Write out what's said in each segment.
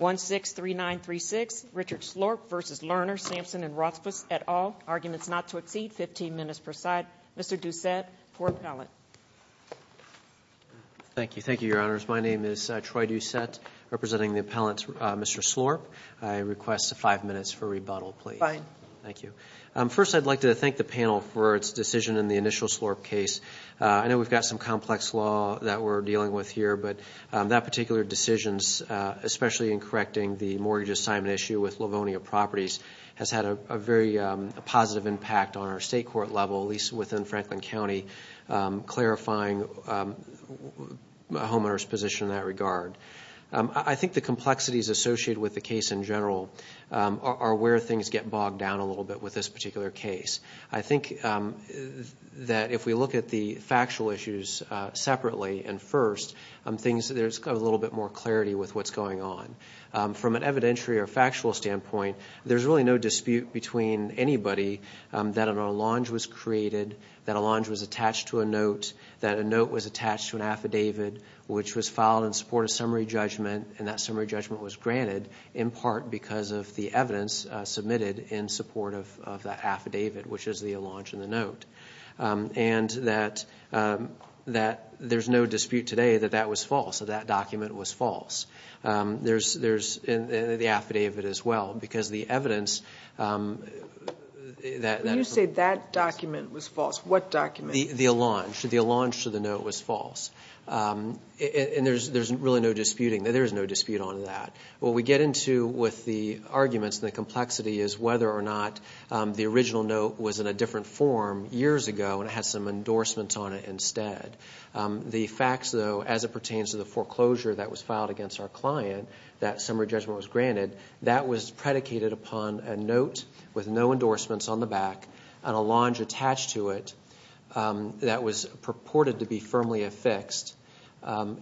163936, Richard Slorp v. Lerner Sampson and Rothfuss et al. Arguments not to exceed 15 minutes per side. Mr. Doucette, court appellant. Thank you. Thank you, Your Honors. My name is Troy Doucette, representing the appellant Mr. Slorp. I request five minutes for rebuttal, please. Fine. Thank you. First, I'd like to thank the panel for its decision in the initial Slorp case. I know we've got some complex law that we're dealing with here, but that particular decision, especially in correcting the mortgage assignment issue with Livonia Properties, has had a very positive impact on our state court level, at least within Franklin County, clarifying a homeowner's position in that regard. I think the complexities associated with the case in general are where things get bogged down a little bit with this particular case. I think that if we look at the factual issues separately and first, there's a little bit more clarity with what's going on. From an evidentiary or factual standpoint, there's really no dispute between anybody that an allonge was created, that an allonge was attached to a note, that a note was attached to an affidavit, which was filed in support of summary judgment, and that summary judgment was granted, in part because of the evidence submitted in support of the affidavit, which is the allonge and the note, and that there's no dispute today that that was false, that that document was false. There's the affidavit as well, because the evidence that- When you say that document was false, what document? The allonge. The allonge to the note was false. And there's really no disputing, there is no dispute on that. What we get into with the arguments and the complexity is whether or not the original note was in a different form years ago and it had some endorsements on it instead. The facts, though, as it pertains to the foreclosure that was filed against our client, that summary judgment was granted, that was predicated upon a note with no endorsements on the back, an allonge attached to it that was purported to be firmly affixed,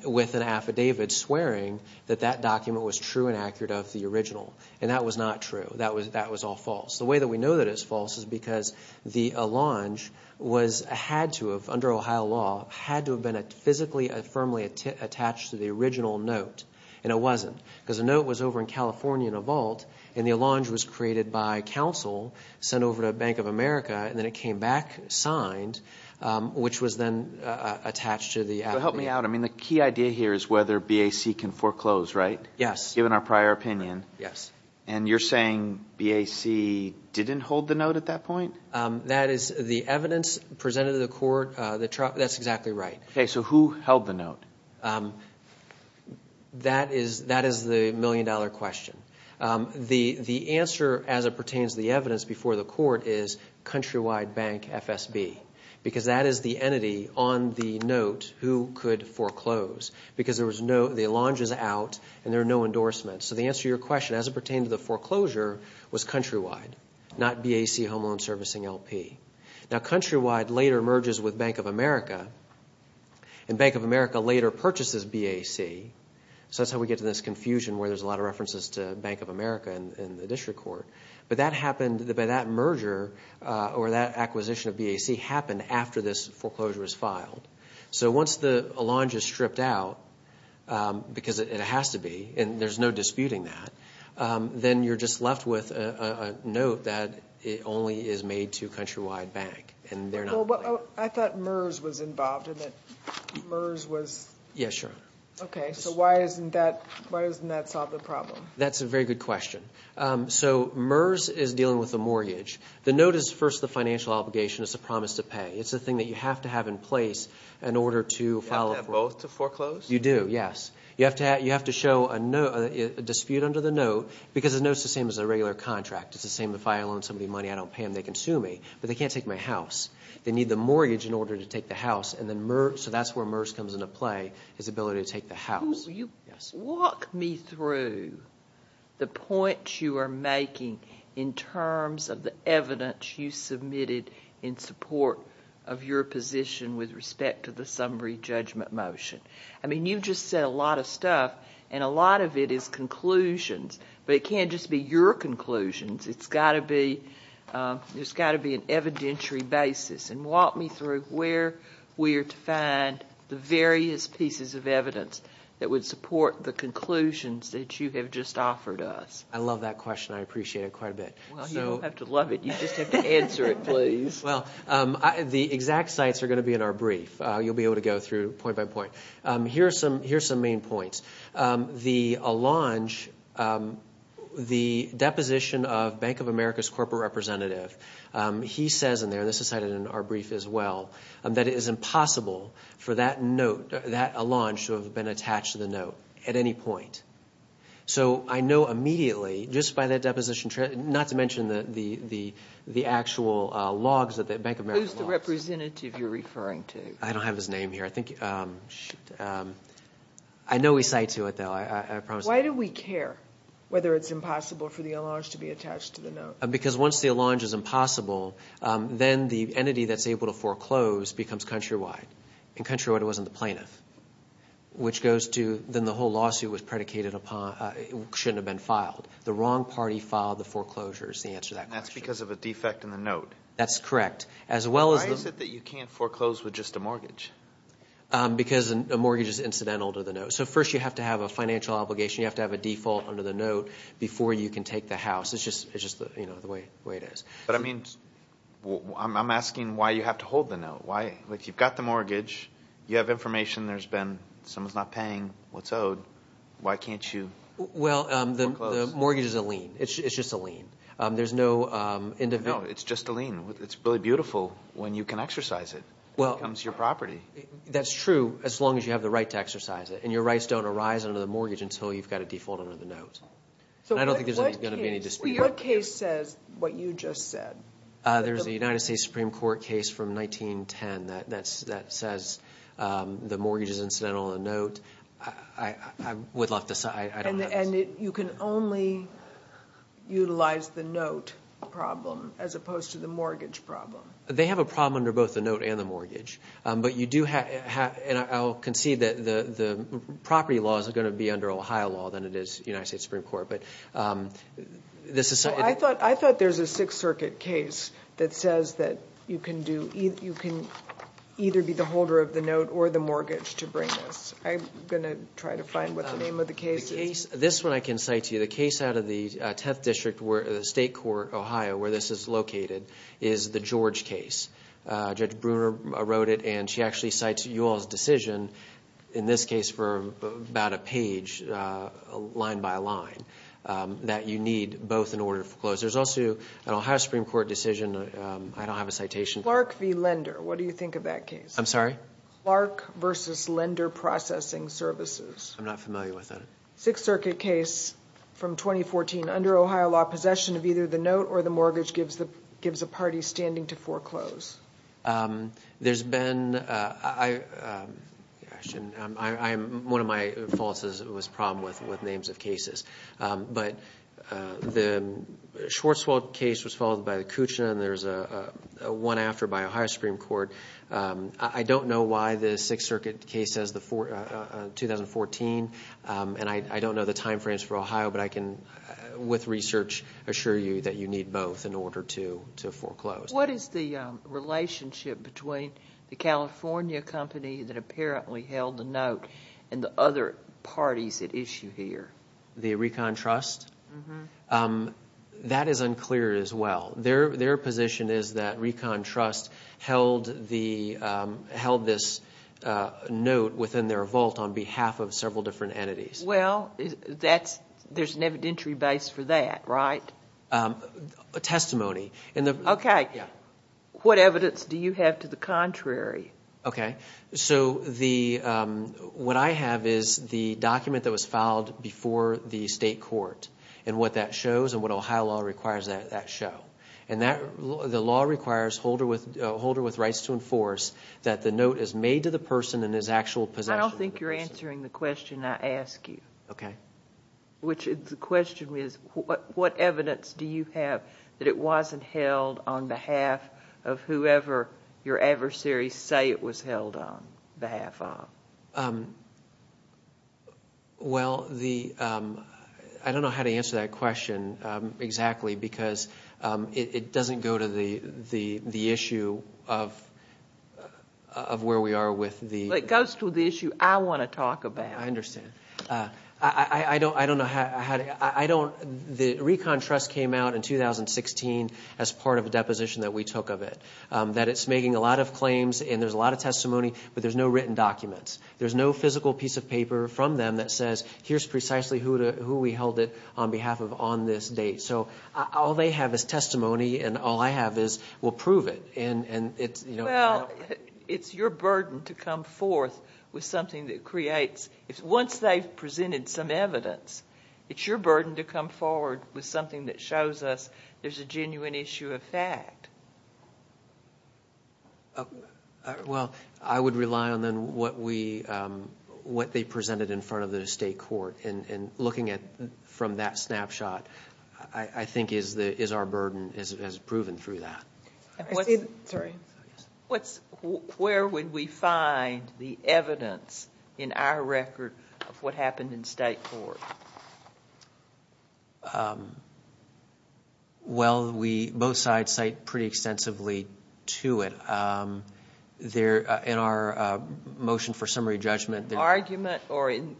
with an affidavit swearing that that document was true and accurate of the original, and that was not true. That was all false. The way that we know that it's false is because the allonge had to have, under Ohio law, had to have been physically and firmly attached to the original note, and it wasn't, because the note was over in California in a vault, and the allonge was created by counsel, sent over to Bank of America, and then it came back signed, which was then attached to the affidavit. I mean, the key idea here is whether BAC can foreclose, right? Yes. Given our prior opinion. Yes. And you're saying BAC didn't hold the note at that point? That is the evidence presented to the court. That's exactly right. Okay. So who held the note? That is the million-dollar question. The answer, as it pertains to the evidence before the court, is Countrywide Bank FSB, because that is the entity on the note who could foreclose, because the allonge is out and there are no endorsements. So the answer to your question, as it pertained to the foreclosure, was Countrywide, not BAC Home Loan Servicing LP. Now, Countrywide later merges with Bank of America, and Bank of America later purchases BAC, so that's how we get to this confusion where there's a lot of references to Bank of America in the district court. But that merger or that acquisition of BAC happened after this foreclosure was filed. So once the allonge is stripped out, because it has to be, and there's no disputing that, then you're just left with a note that only is made to Countrywide Bank. I thought MERS was involved in it. Yes, sure. Okay. So why hasn't that solved the problem? That's a very good question. So MERS is dealing with a mortgage. The note is first the financial obligation. It's a promise to pay. It's the thing that you have to have in place in order to file a foreclosure. Do you have to have both to foreclose? You do, yes. You have to show a dispute under the note, because the note's the same as a regular contract. It's the same if I loan somebody money, I don't pay them, they can sue me, but they can't take my house. They need the mortgage in order to take the house, so that's where MERS comes into play, his ability to take the house. Walk me through the points you are making in terms of the evidence you submitted in support of your position with respect to the summary judgment motion. I mean, you just said a lot of stuff, and a lot of it is conclusions, but it can't just be your conclusions. It's got to be an evidentiary basis. Walk me through where we are to find the various pieces of evidence that would support the conclusions that you have just offered us. I love that question. I appreciate it quite a bit. Well, you don't have to love it. You just have to answer it, please. Well, the exact sites are going to be in our brief. You'll be able to go through point by point. Here are some main points. The Allonge, the deposition of Bank of America's corporate representative, he says in there, and this is cited in our brief as well, that it is impossible for that note, that Allonge, to have been attached to the note at any point. So I know immediately, just by that deposition, not to mention the actual logs that the Bank of America logs. Who's the representative you're referring to? I don't have his name here. I know we cite to it, though. Why do we care whether it's impossible for the Allonge to be attached to the note? Because once the Allonge is impossible, then the entity that's able to foreclose becomes Countrywide. And Countrywide wasn't the plaintiff, which goes to, then the whole lawsuit was predicated upon it shouldn't have been filed. The wrong party filed the foreclosures, the answer to that question. That's because of a defect in the note. That's correct. Why is it that you can't foreclose with just a mortgage? Because a mortgage is incidental to the note. So first you have to have a financial obligation. You have to have a default under the note before you can take the house. It's just the way it is. But, I mean, I'm asking why you have to hold the note. You've got the mortgage. You have information there's been someone's not paying what's owed. Why can't you foreclose? Well, the mortgage is a lien. It's just a lien. No, it's just a lien. It's really beautiful when you can exercise it. It becomes your property. That's true as long as you have the right to exercise it. And your rights don't arise under the mortgage until you've got a default under the note. I don't think there's going to be any dispute. What case says what you just said? There's a United States Supreme Court case from 1910 that says the mortgage is incidental to the note. I would love to decide. And you can only utilize the note problem as opposed to the mortgage problem. And I'll concede that the property law is going to be under Ohio law than it is United States Supreme Court. I thought there's a Sixth Circuit case that says that you can either be the holder of the note or the mortgage to bring this. I'm going to try to find what the name of the case is. This one I can cite to you. The case out of the 10th District State Court, Ohio, where this is located, is the George case. Judge Bruner wrote it, and she actually cites you all's decision, in this case for about a page, line by line, that you need both in order to foreclose. There's also an Ohio Supreme Court decision. I don't have a citation. Clark v. Lender. What do you think of that case? I'm sorry? Clark v. Lender Processing Services. I'm not familiar with that. Sixth Circuit case from 2014, under Ohio law, possession of either the note or the mortgage gives a party standing to foreclose. There's been – one of my faults was a problem with names of cases. But the Schwarzwald case was followed by the Kuchina, and there's a one after by Ohio Supreme Court. I don't know why the Sixth Circuit case says 2014, and I don't know the time frames for Ohio, but I can, with research, assure you that you need both in order to foreclose. What is the relationship between the California company that apparently held the note and the other parties at issue here? The Recon Trust? That is unclear as well. Their position is that Recon Trust held this note within their vault on behalf of several different entities. Well, there's an evidentiary base for that, right? A testimony. Okay. Yeah. What evidence do you have to the contrary? Okay. So what I have is the document that was filed before the state court and what that shows and what Ohio law requires that show. And the law requires a holder with rights to enforce that the note is made to the person in his actual possession. I don't think you're answering the question I asked you. Okay. The question is, what evidence do you have that it wasn't held on behalf of whoever your adversaries say it was held on behalf of? Well, I don't know how to answer that question exactly because it doesn't go to the issue of where we are with the- It goes to the issue I want to talk about. I understand. I don't know how to- The Recon Trust came out in 2016 as part of a deposition that we took of it. That it's making a lot of claims and there's a lot of testimony, but there's no written documents. There's no physical piece of paper from them that says here's precisely who we held it on behalf of on this date. So all they have is testimony and all I have is we'll prove it. Well, it's your burden to come forth with something that creates- Once they've presented some evidence, it's your burden to come forward with something that shows us there's a genuine issue of fact. Well, I would rely on then what they presented in front of the state court. And looking from that snapshot, I think is our burden as proven through that. Sorry. Where would we find the evidence in our record of what happened in state court? Well, both sides cite pretty extensively to it. In our motion for summary judgment- Argument or in-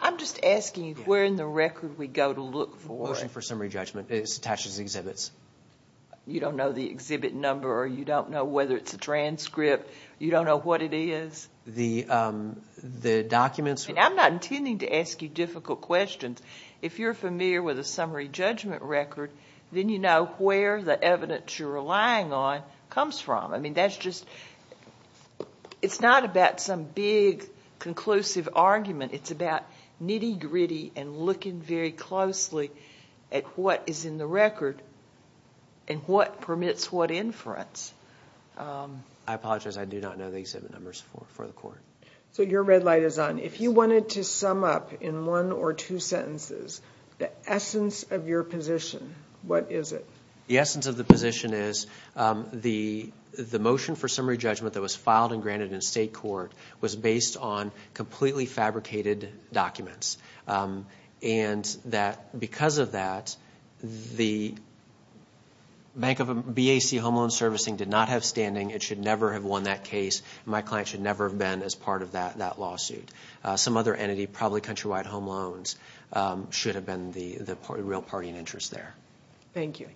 I'm just asking where in the record we go to look for- Motion for summary judgment. It's attached as exhibits. You don't know the exhibit number or you don't know whether it's a transcript. You don't know what it is. The documents- I'm not intending to ask you difficult questions. If you're familiar with a summary judgment record, then you know where the evidence you're relying on comes from. I mean, that's just- it's not about some big conclusive argument. It's about nitty-gritty and looking very closely at what is in the record and what permits what inference. I apologize. I do not know the exhibit numbers for the court. So your red light is on. If you wanted to sum up in one or two sentences the essence of your position, what is it? The essence of the position is the motion for summary judgment that was filed and granted in state court was based on completely fabricated documents. And that because of that, the Bank of BAC Home Loan Servicing did not have standing. It should never have won that case. My client should never have been as part of that lawsuit. Some other entity, probably Countrywide Home Loans, should have been the real party in interest there. Thank you.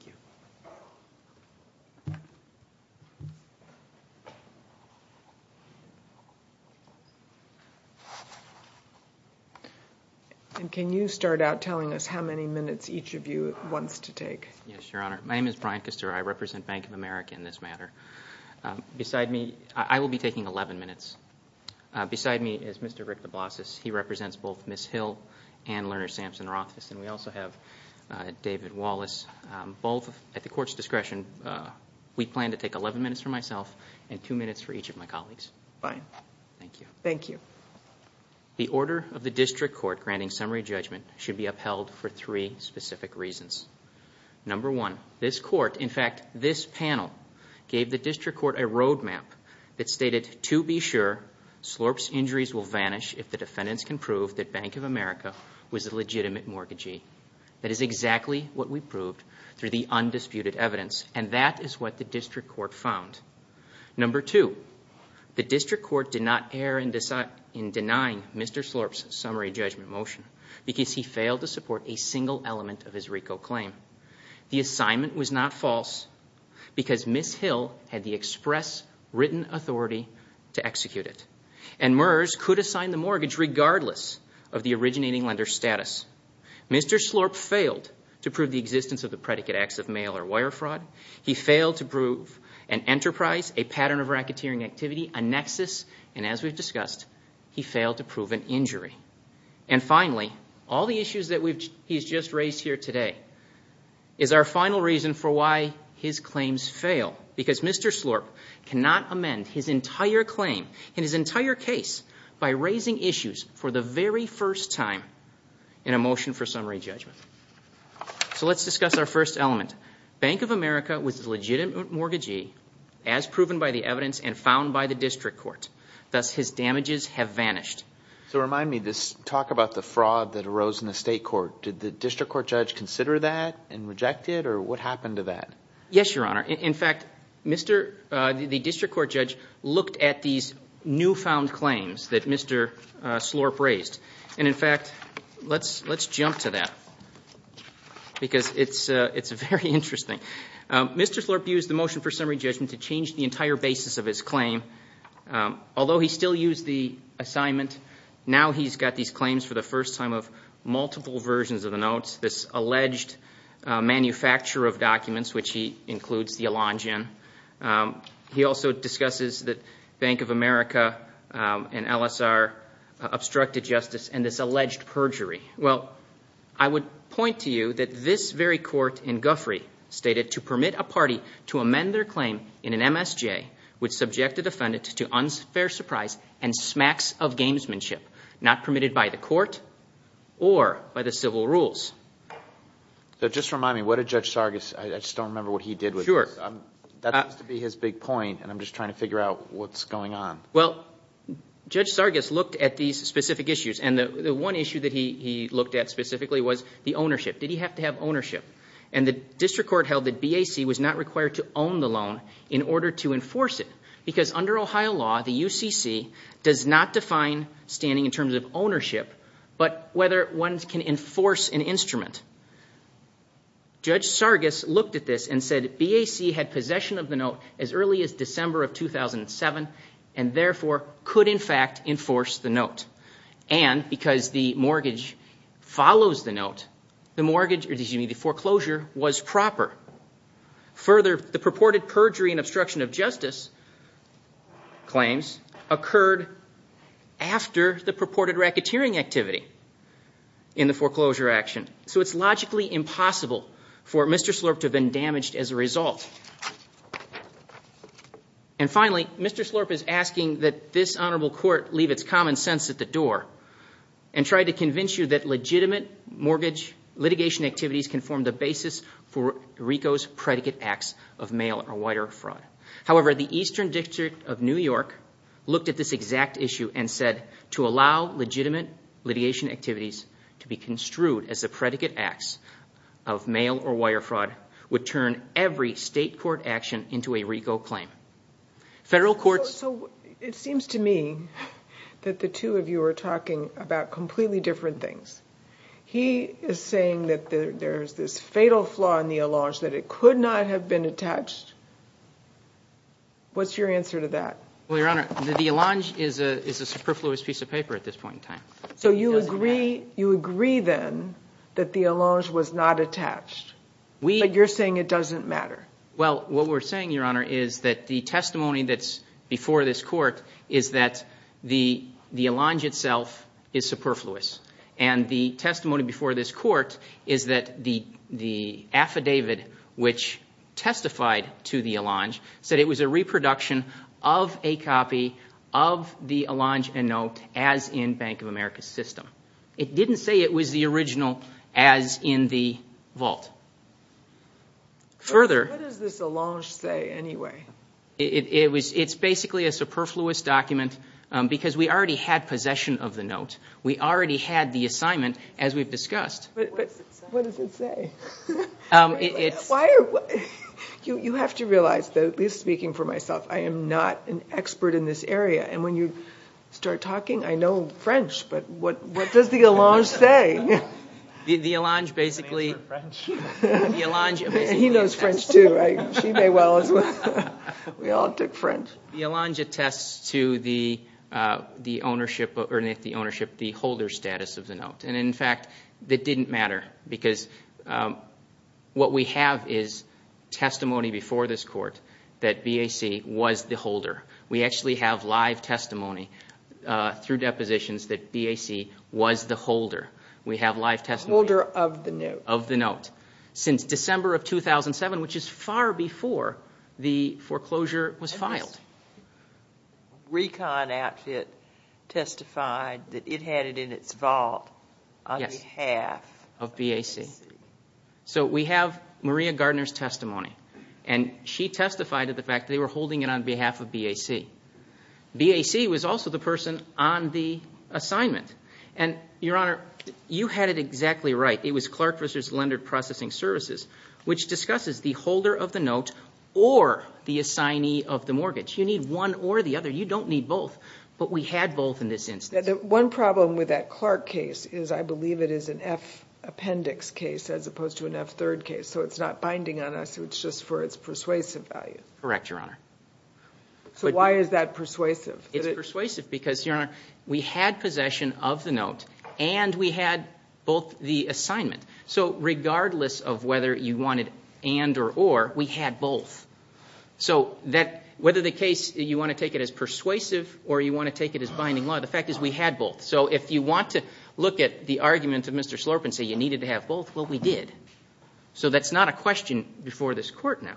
And can you start out telling us how many minutes each of you wants to take? Yes, Your Honor. My name is Brian Kuster. I represent Bank of America in this matter. Beside me- I will be taking 11 minutes. Beside me is Mr. Rick DeBlasius. He represents both Ms. Hill and Lerner Sampson Rothfuss. And we also have David Wallace. Both at the court's discretion, we plan to take 11 minutes for myself and two minutes for each of my colleagues. Fine. Thank you. Thank you. The order of the district court granting summary judgment should be upheld for three specific reasons. Number one, this court, in fact this panel, gave the district court a road map that stated, to be sure, Slorp's injuries will vanish if the defendants can prove that Bank of America was a legitimate mortgagee. That is exactly what we proved through the undisputed evidence. And that is what the district court found. Number two, the district court did not err in denying Mr. Slorp's summary judgment motion because he failed to support a single element of his RICO claim. The assignment was not false because Ms. Hill had the express written authority to execute it. And MERS could assign the mortgage regardless of the originating lender's status. Mr. Slorp failed to prove the existence of the predicate acts of mail or wire fraud. He failed to prove an enterprise, a pattern of racketeering activity, a nexus, and as we've discussed, he failed to prove an injury. And finally, all the issues that he's just raised here today is our final reason for why his claims fail because Mr. Slorp cannot amend his entire claim and his entire case by raising issues for the very first time in a motion for summary judgment. So let's discuss our first element. Bank of America was a legitimate mortgagee as proven by the evidence and found by the district court. Thus, his damages have vanished. So remind me, talk about the fraud that arose in the state court. Did the district court judge consider that and reject it, or what happened to that? Yes, Your Honor. In fact, the district court judge looked at these newfound claims that Mr. Slorp raised. And, in fact, let's jump to that because it's very interesting. Mr. Slorp used the motion for summary judgment to change the entire basis of his claim. Although he still used the assignment, now he's got these claims for the first time of multiple versions of the notes, this alleged manufacturer of documents, which he includes the Elangen. He also discusses that Bank of America and LSR obstructed justice and this alleged perjury. Well, I would point to you that this very court in Guffrey stated, to permit a party to amend their claim in an MSJ would subject the defendant to unfair surprise and smacks of gamesmanship not permitted by the court or by the civil rules. So just remind me, what did Judge Sargis, I just don't remember what he did with this. That seems to be his big point and I'm just trying to figure out what's going on. Well, Judge Sargis looked at these specific issues and the one issue that he looked at specifically was the ownership. Did he have to have ownership? And the district court held that BAC was not required to own the loan in order to enforce it because under Ohio law, the UCC does not define standing in terms of ownership, but whether one can enforce an instrument. Judge Sargis looked at this and said BAC had possession of the note as early as December of 2007 and therefore could in fact enforce the note. And because the mortgage follows the note, the foreclosure was proper. Further, the purported perjury and obstruction of justice claims occurred after the purported racketeering activity in the foreclosure action. So it's logically impossible for Mr. Slurp to have been damaged as a result. And finally, Mr. Slurp is asking that this honorable court leave its common sense at the door and try to convince you that legitimate mortgage litigation activities can form the basis for RICO's predicate acts of mail or wider fraud. However, the Eastern District of New York looked at this exact issue and said to allow legitimate litigation activities to be construed as the predicate acts of mail or wider fraud would turn every state court action into a RICO claim. So it seems to me that the two of you are talking about completely different things. He is saying that there's this fatal flaw in the allonge that it could not have been attached. What's your answer to that? Well, Your Honor, the allonge is a superfluous piece of paper at this point in time. So you agree then that the allonge was not attached. But you're saying it doesn't matter. Well, what we're saying, Your Honor, is that the testimony that's before this court is that the allonge itself is superfluous. And the testimony before this court is that the affidavit which testified to the allonge said it was a reproduction of a copy of the allonge and note as in Bank of America's system. It didn't say it was the original as in the vault. What does this allonge say anyway? It's basically a superfluous document because we already had possession of the note. We already had the assignment as we've discussed. But what does it say? You have to realize, at least speaking for myself, I am not an expert in this area. And when you start talking, I know French. But what does the allonge say? The allonge basically attests to the ownership, the holder status of the note. And, in fact, that didn't matter because what we have is testimony before this court that BAC was the holder. We actually have live testimony through depositions that BAC was the holder. We have live testimony of the note. Since December of 2007, which is far before the foreclosure was filed. Recon outfit testified that it had it in its vault on behalf of BAC. So we have Maria Gardner's testimony. And she testified to the fact that they were holding it on behalf of BAC. BAC was also the person on the assignment. And, Your Honor, you had it exactly right. It was Clark versus Lender Processing Services, which discusses the holder of the note or the assignee of the mortgage. You need one or the other. You don't need both. But we had both in this instance. One problem with that Clark case is I believe it is an F appendix case as opposed to an F third case. So it's not binding on us. It's just for its persuasive value. Correct, Your Honor. So why is that persuasive? It's persuasive because, Your Honor, we had possession of the note and we had both the assignment. So regardless of whether you wanted and or or, we had both. So whether the case you want to take it as persuasive or you want to take it as binding law, the fact is we had both. So if you want to look at the argument of Mr. Slorp and say you needed to have both, well, we did. So that's not a question before this Court now.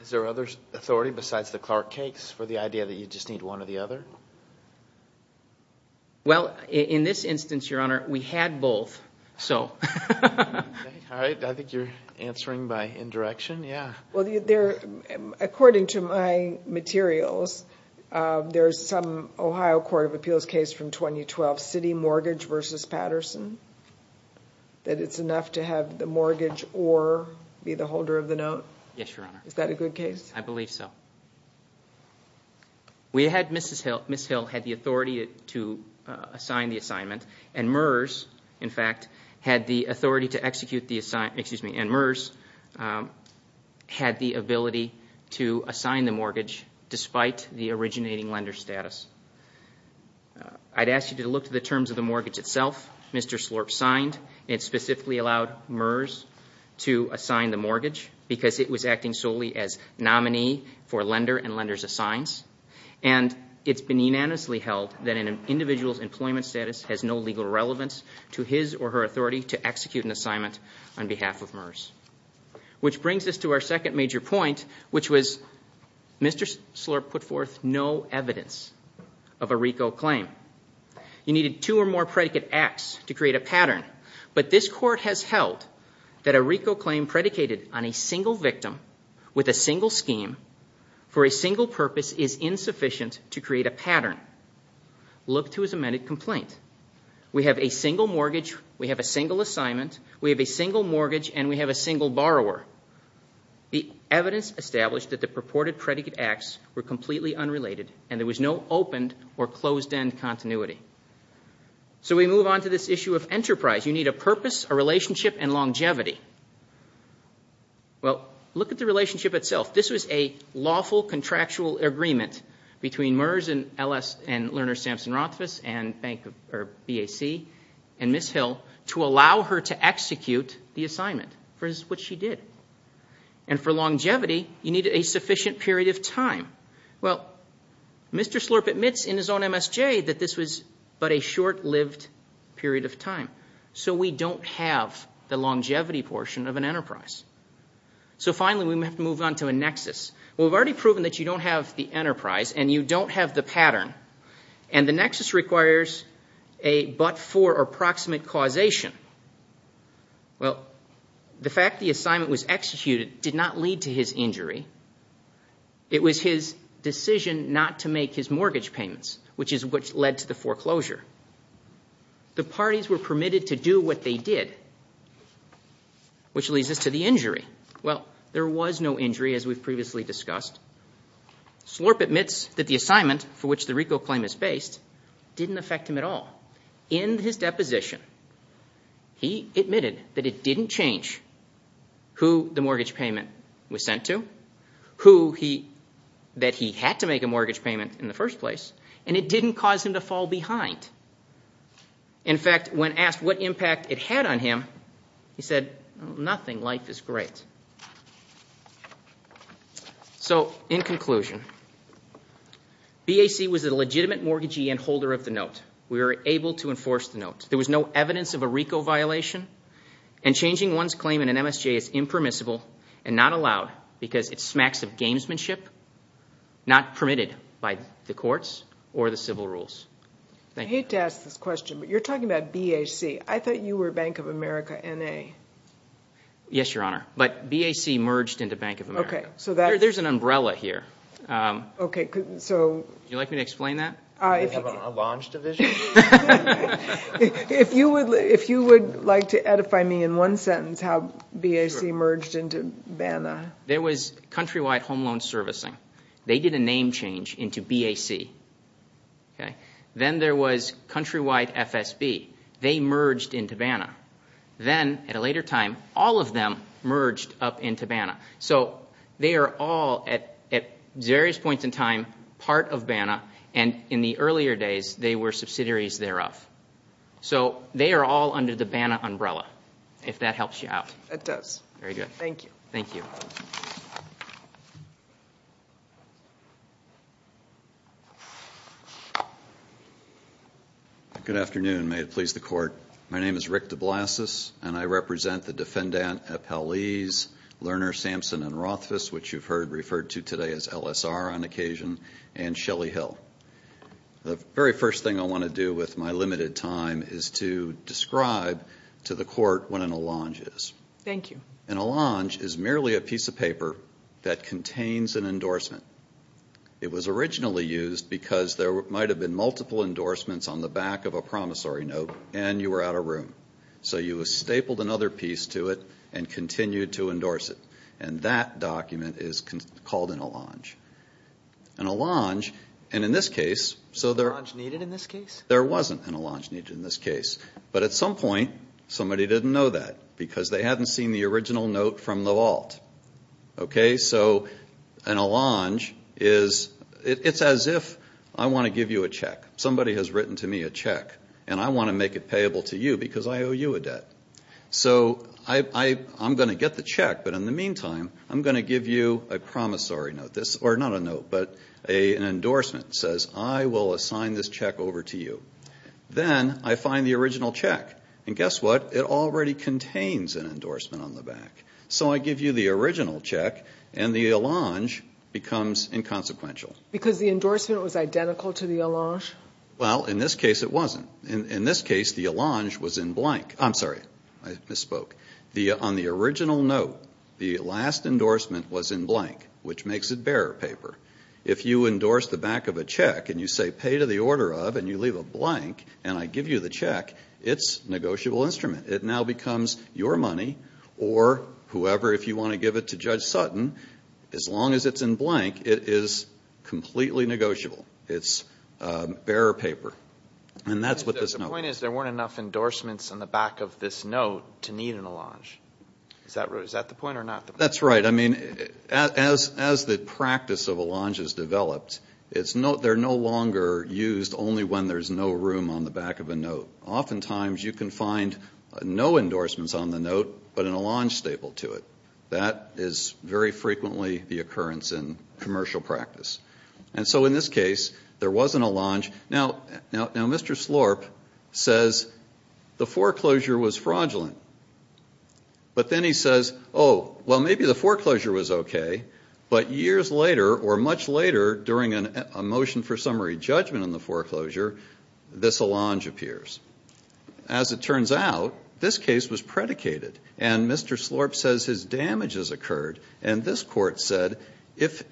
Is there other authority besides the Clark case for the idea that you just need one or the other? Well, in this instance, Your Honor, we had both, so. All right. I think you're answering by indirection. Yeah. Well, according to my materials, there is some Ohio Court of Appeals case from 2012, city mortgage versus Patterson, that it's enough to have the mortgage or be the holder of the note. Yes, Your Honor. Is that a good case? I believe so. We had Mrs. Hill. Mrs. Hill had the authority to assign the assignment. And MERS, in fact, had the authority to execute the assignment. Excuse me. And MERS had the ability to assign the mortgage despite the originating lender status. I'd ask you to look at the terms of the mortgage itself. Mr. Slorp signed. It specifically allowed MERS to assign the mortgage because it was acting solely as nominee for lender and lender's assigns. And it's been unanimously held that an individual's employment status has no legal relevance to his or her authority to execute an assignment on behalf of MERS. Which brings us to our second major point, which was Mr. Slorp put forth no evidence of a RICO claim. You needed two or more predicate acts to create a pattern. But this court has held that a RICO claim predicated on a single victim with a single scheme for a single purpose is insufficient to create a pattern. Look to his amended complaint. We have a single mortgage, we have a single assignment, we have a single mortgage, and we have a single borrower. The evidence established that the purported predicate acts were completely unrelated and there was no opened or closed-end continuity. So we move on to this issue of enterprise. You need a purpose, a relationship, and longevity. Well, look at the relationship itself. This was a lawful contractual agreement between MERS and Lerner-Sampson-Rothfuss and BAC and Ms. Hill to allow her to execute the assignment, which is what she did. And for longevity, you needed a sufficient period of time. Well, Mr. Slorp admits in his own MSJ that this was but a short-lived period of time. So we don't have the longevity portion of an enterprise. So finally, we have to move on to a nexus. Well, we've already proven that you don't have the enterprise and you don't have the pattern, and the nexus requires a but-for or proximate causation. Well, the fact the assignment was executed did not lead to his injury. It was his decision not to make his mortgage payments, which is what led to the foreclosure. The parties were permitted to do what they did, which leads us to the injury. Well, there was no injury, as we've previously discussed. Slorp admits that the assignment for which the RICO claim is based didn't affect him at all. In his deposition, he admitted that it didn't change who the mortgage payment was sent to, that he had to make a mortgage payment in the first place, and it didn't cause him to fall behind. In fact, when asked what impact it had on him, he said, nothing, life is great. So in conclusion, BAC was a legitimate mortgagee and holder of the note. We were able to enforce the note. There was no evidence of a RICO violation, and changing one's claim in an MSJ is impermissible and not allowed because it smacks of gamesmanship, not permitted by the courts or the civil rules. I hate to ask this question, but you're talking about BAC. I thought you were Bank of America N.A. Yes, Your Honor, but BAC merged into Bank of America. There's an umbrella here. Would you like me to explain that? Do we have a launch division? If you would like to edify me in one sentence how BAC merged into BANA. There was countrywide home loan servicing. They did a name change into BAC. Then there was countrywide FSB. They merged into BANA. Then at a later time, all of them merged up into BANA. They are all, at various points in time, part of BANA. In the earlier days, they were subsidiaries thereof. They are all under the BANA umbrella, if that helps you out. It does. Thank you. Good afternoon. May it please the Court. My name is Rick DeBlasius, and I represent the defendant appellees, Lerner, Sampson, and Rothfuss, which you've heard referred to today as LSR on occasion, and Shelley Hill. The very first thing I want to do with my limited time is to describe to the Court what an allonge is. Thank you. An allonge is merely a piece of paper that contains an endorsement. It was originally used because there might have been multiple endorsements on the back of a promissory note, and you were out of room. So you stapled another piece to it and continued to endorse it. And that document is called an allonge. An allonge, and in this case, so there... An allonge needed in this case? There wasn't an allonge needed in this case. But at some point, somebody didn't know that because they hadn't seen the original note from the vault. Okay? Somebody has written to me a check, and I want to make it payable to you because I owe you a debt. So I'm going to get the check, but in the meantime, I'm going to give you a promissory note. Or not a note, but an endorsement that says, I will assign this check over to you. Then I find the original check, and guess what? It already contains an endorsement on the back. So I give you the original check, and the allonge becomes inconsequential. Because the endorsement was identical to the allonge? Well, in this case, it wasn't. In this case, the allonge was in blank. I'm sorry. I misspoke. On the original note, the last endorsement was in blank, which makes it bearer paper. If you endorse the back of a check and you say, pay to the order of, and you leave a blank, and I give you the check, it's a negotiable instrument. It now becomes your money or whoever, if you want to give it to Judge Sutton, as long as it's in blank, it is completely negotiable. It's bearer paper. And that's what this note is. The point is, there weren't enough endorsements on the back of this note to need an allonge. Is that the point or not? That's right. I mean, as the practice of allonge has developed, they're no longer used only when there's no room on the back of a note. Oftentimes, you can find no endorsements on the note, but an allonge staple to it. That is very frequently the occurrence in commercial practice. And so in this case, there was an allonge. Now, Mr. Slorp says the foreclosure was fraudulent. But then he says, oh, well, maybe the foreclosure was okay, but years later or much later during a motion for summary judgment on the foreclosure, this allonge appears. As it turns out, this case was predicated. And Mr. Slorp says his damages occurred. And this court said his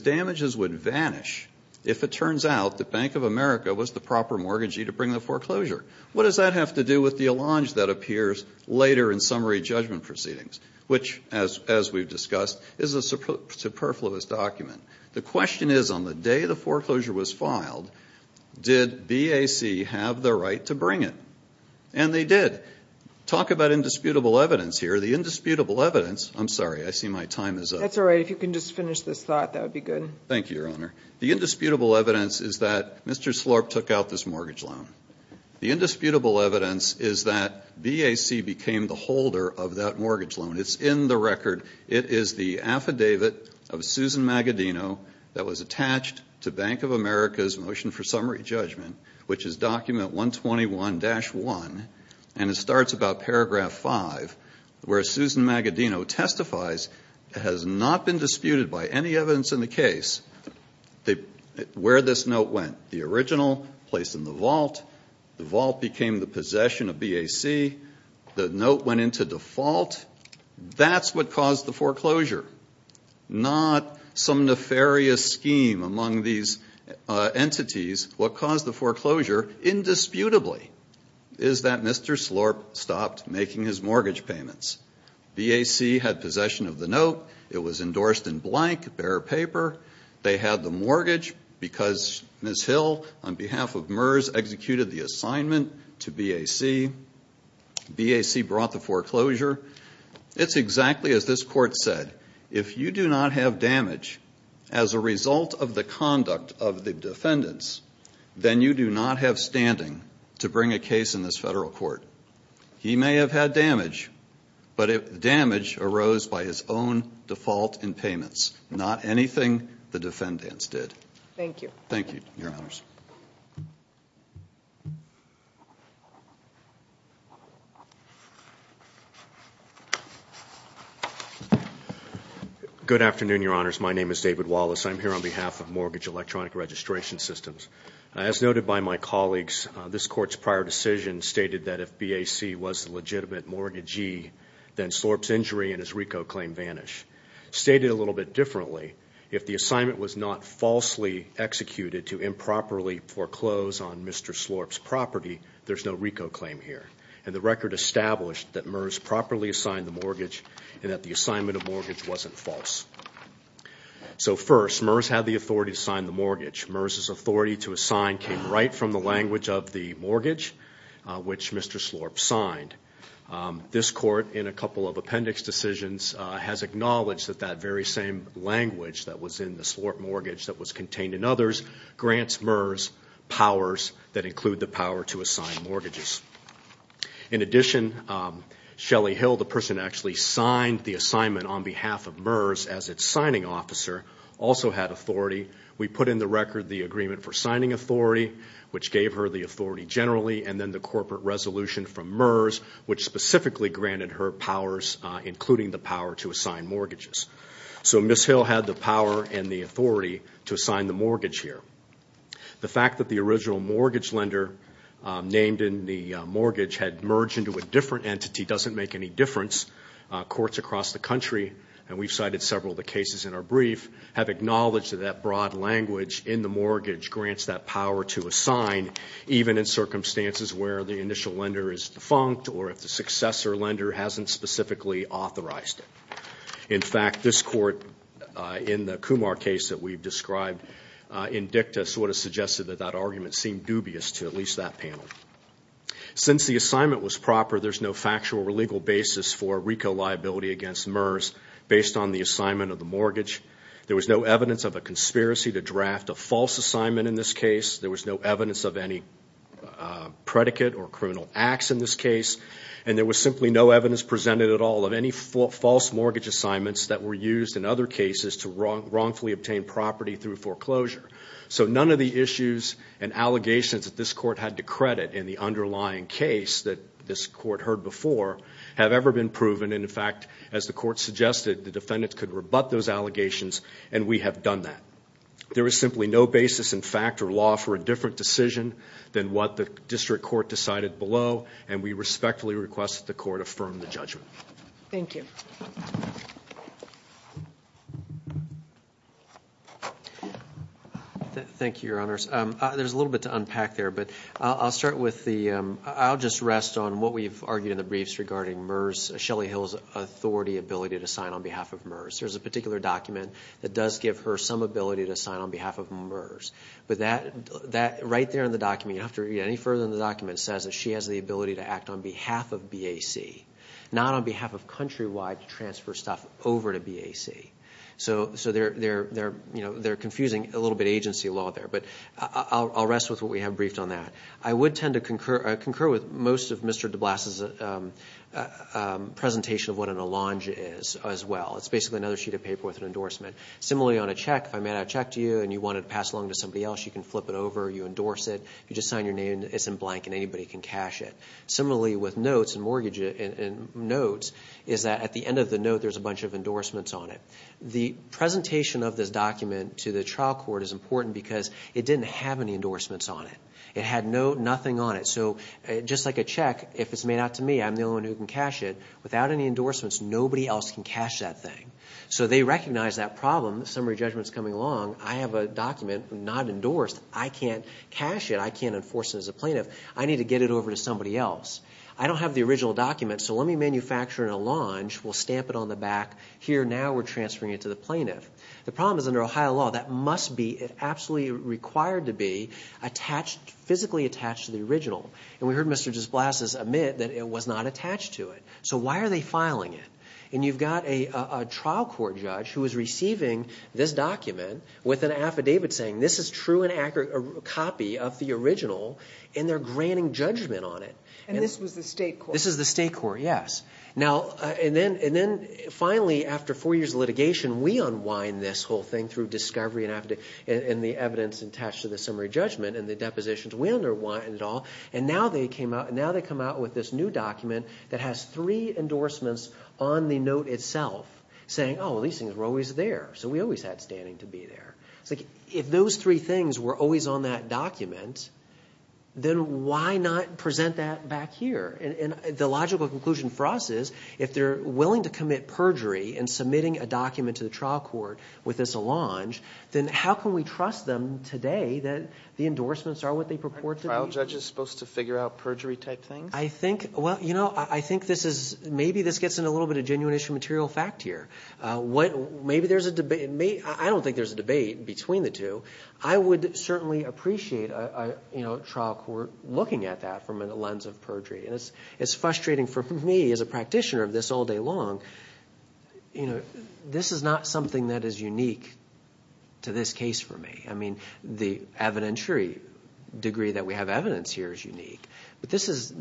damages would vanish if it turns out the Bank of America was the proper mortgagee to bring the foreclosure. What does that have to do with the allonge that appears later in summary judgment proceedings, which, as we've discussed, is a superfluous document? The question is, on the day the foreclosure was filed, did BAC have the right to bring it? And they did. Talk about indisputable evidence here. The indisputable evidence, I'm sorry, I see my time is up. That's all right. If you can just finish this thought, that would be good. Thank you, Your Honor. The indisputable evidence is that Mr. Slorp took out this mortgage loan. The indisputable evidence is that BAC became the holder of that mortgage loan. It's in the record. It is the affidavit of Susan Magadino that was attached to Bank of America's motion for summary judgment, which is document 121-1, and it starts about paragraph 5, where Susan Magadino testifies it has not been disputed by any evidence in the case where this note went. The original placed in the vault. The vault became the possession of BAC. The note went into default. That's what caused the foreclosure, not some nefarious scheme among these entities. What caused the foreclosure indisputably is that Mr. Slorp stopped making his mortgage payments. BAC had possession of the note. It was endorsed in blank, bare paper. They had the mortgage because Ms. Hill, on behalf of MERS, executed the assignment to BAC. BAC brought the foreclosure. It's exactly as this court said. If you do not have damage as a result of the conduct of the defendants, then you do not have standing to bring a case in this federal court. He may have had damage, but damage arose by his own default in payments, not anything the defendants did. Thank you. Thank you, Your Honors. Good afternoon, Your Honors. My name is David Wallace. I'm here on behalf of Mortgage Electronic Registration Systems. As noted by my colleagues, this court's prior decision stated that if BAC was the legitimate mortgagee, then Slorp's injury and his RICO claim vanish. Stated a little bit differently, if the assignment was not falsely executed to improperly foreclose on Mr. Slorp's property, there's no RICO claim here. And the record established that MERS properly assigned the mortgage and that the assignment of mortgage wasn't false. So first, MERS had the authority to sign the mortgage. MERS's authority to assign came right from the language of the mortgage, which Mr. Slorp signed. This court, in a couple of appendix decisions, has acknowledged that that very same language that was in the Slorp mortgage that was contained in others, grants MERS powers that include the power to assign mortgages. In addition, Shelley Hill, the person who actually signed the assignment on behalf of MERS as its signing officer, also had authority. We put in the record the agreement for signing authority, which gave her the authority generally, and then the corporate resolution from MERS, which specifically granted her powers, including the power to assign mortgages. So Ms. Hill had the power and the authority to assign the mortgage here. The fact that the original mortgage lender named in the mortgage had merged into a different entity doesn't make any difference. Courts across the country, and we've cited several of the cases in our brief, have acknowledged that that broad language in the mortgage grants that power to assign, even in circumstances where the initial lender is defunct or if the successor lender hasn't specifically authorized it. In fact, this court in the Kumar case that we've described in dicta sort of suggested that that argument seemed dubious to at least that panel. Since the assignment was proper, there's no factual or legal basis for RICO liability against MERS, based on the assignment of the mortgage. There was no evidence of a conspiracy to draft a false assignment in this case. There was no evidence of any predicate or criminal acts in this case, and there was simply no evidence presented at all of any false mortgage assignments that were used in other cases to wrongfully obtain property through foreclosure. So none of the issues and allegations that this court had to credit in the underlying case that this court heard before have ever been proven, and in fact, as the court suggested, the defendants could rebut those allegations, and we have done that. There is simply no basis in fact or law for a different decision than what the district court decided below, and we respectfully request that the court affirm the judgment. Thank you. Thank you, Your Honors. There's a little bit to unpack there, but I'll start with the ‑‑ I'll just rest on what we've argued in the briefs regarding MERS, Shelly Hill's authority, ability to sign on behalf of MERS. There's a particular document that does give her some ability to sign on behalf of MERS, but that right there in the document, you don't have to read any further in the document, says that she has the ability to act on behalf of BAC, not on behalf of Countrywide to transfer stuff over to BAC. So they're confusing a little bit of agency law there, but I'll rest with what we have briefed on that. I would tend to concur with most of Mr. de Blas's presentation of what an allonge is as well. It's basically another sheet of paper with an endorsement. Similarly on a check, if I made out a check to you and you wanted to pass it along to somebody else, you can flip it over, you endorse it, you just sign your name, it's in blank, and anybody can cash it. Similarly with notes and mortgage notes is that at the end of the note, there's a bunch of endorsements on it. The presentation of this document to the trial court is important because it didn't have any endorsements on it. It had nothing on it. So just like a check, if it's made out to me, I'm the only one who can cash it, without any endorsements, nobody else can cash that thing. So they recognize that problem. Summary judgment's coming along. I have a document not endorsed. I can't cash it. I can't enforce it as a plaintiff. I need to get it over to somebody else. I don't have the original document, so let me manufacture an allonge. We'll stamp it on the back here. Now we're transferring it to the plaintiff. The problem is under Ohio law, that must be, it's absolutely required to be physically attached to the original. We heard Mr. de Blas's admit that it was not attached to it. So why are they filing it? And you've got a trial court judge who is receiving this document with an affidavit saying this is true and accurate, a copy of the original, and they're granting judgment on it. And this was the state court? This is the state court, yes. And then finally, after four years of litigation, we unwind this whole thing through discovery and the evidence attached to the summary judgment and the depositions. We unwind it all, and now they come out with this new document that has three endorsements on the note itself saying, oh, these things were always there, so we always had standing to be there. It's like if those three things were always on that document, then why not present that back here? And the logical conclusion for us is if they're willing to commit perjury in submitting a document to the trial court with this allonge, then how can we trust them today that the endorsements are what they purport to be? Aren't trial judges supposed to figure out perjury-type things? Well, you know, I think maybe this gets into a little bit of genuine issue material fact here. I don't think there's a debate between the two. I would certainly appreciate a trial court looking at that from a lens of perjury. And it's frustrating for me as a practitioner of this all day long. This is not something that is unique to this case for me. I mean, the evidentiary degree that we have evidence here is unique. But this is,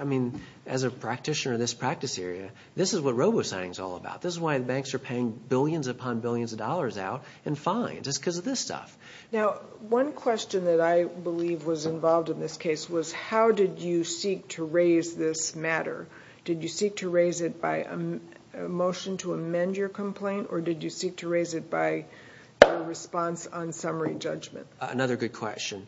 I mean, as a practitioner in this practice area, this is what robo-signing is all about. This is why the banks are paying billions upon billions of dollars out in fines. It's because of this stuff. Now, one question that I believe was involved in this case was how did you seek to raise this matter? Did you seek to raise it by a motion to amend your complaint, or did you seek to raise it by a response on summary judgment? Another good question.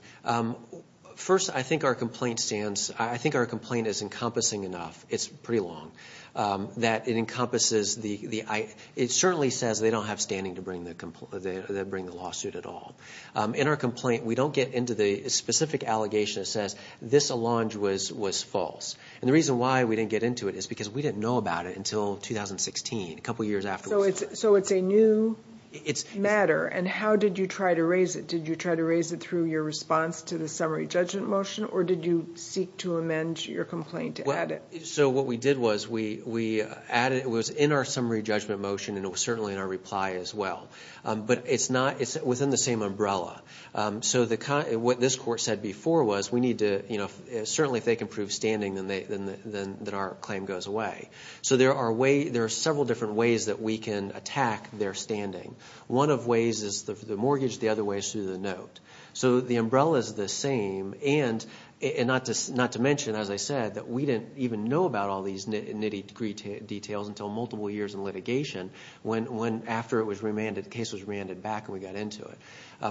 First, I think our complaint is encompassing enough. It's pretty long. It certainly says they don't have standing to bring the lawsuit at all. In our complaint, we don't get into the specific allegation that says this allonge was false. And the reason why we didn't get into it is because we didn't know about it until 2016, a couple years afterwards. So it's a new matter, and how did you try to raise it? Did you try to raise it through your response to the summary judgment motion, or did you seek to amend your complaint to add it? So what we did was we added it. It was in our summary judgment motion, and it was certainly in our reply as well. But it's within the same umbrella. So what this court said before was we need to, you know, certainly if they can prove standing, then our claim goes away. So there are several different ways that we can attack their standing. One of ways is the mortgage. The other way is through the note. So the umbrella is the same, and not to mention, as I said, that we didn't even know about all these nitty-gritty details until multiple years in litigation, after the case was remanded back and we got into it.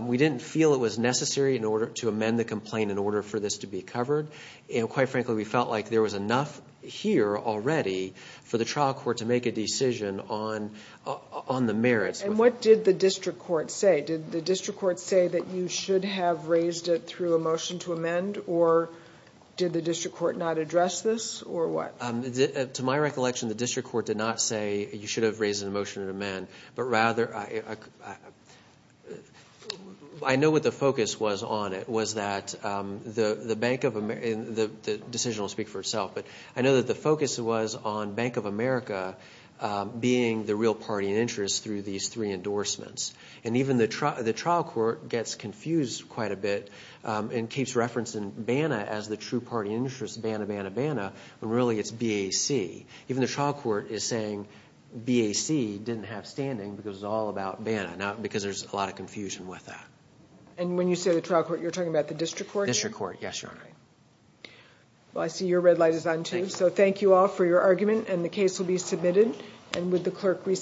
We didn't feel it was necessary to amend the complaint in order for this to be covered. And quite frankly, we felt like there was enough here already for the trial court to make a decision on the merits. And what did the district court say? Did the district court say that you should have raised it through a motion to amend, or did the district court not address this, or what? To my recollection, the district court did not say you should have raised it in a motion to amend, but rather I know what the focus was on it, was that the Bank of America, and the decision will speak for itself, but I know that the focus was on Bank of America being the real party in interest through these three endorsements. And even the trial court gets confused quite a bit and keeps referencing BANA as the true party interest, BANA, BANA, BANA, when really it's BAC. Even the trial court is saying BAC didn't have standing because it's all about BANA, not because there's a lot of confusion with that. And when you say the trial court, you're talking about the district court? District court, yes, Your Honor. Well, I see your red light is on, too. So thank you all for your argument, and the case will be submitted.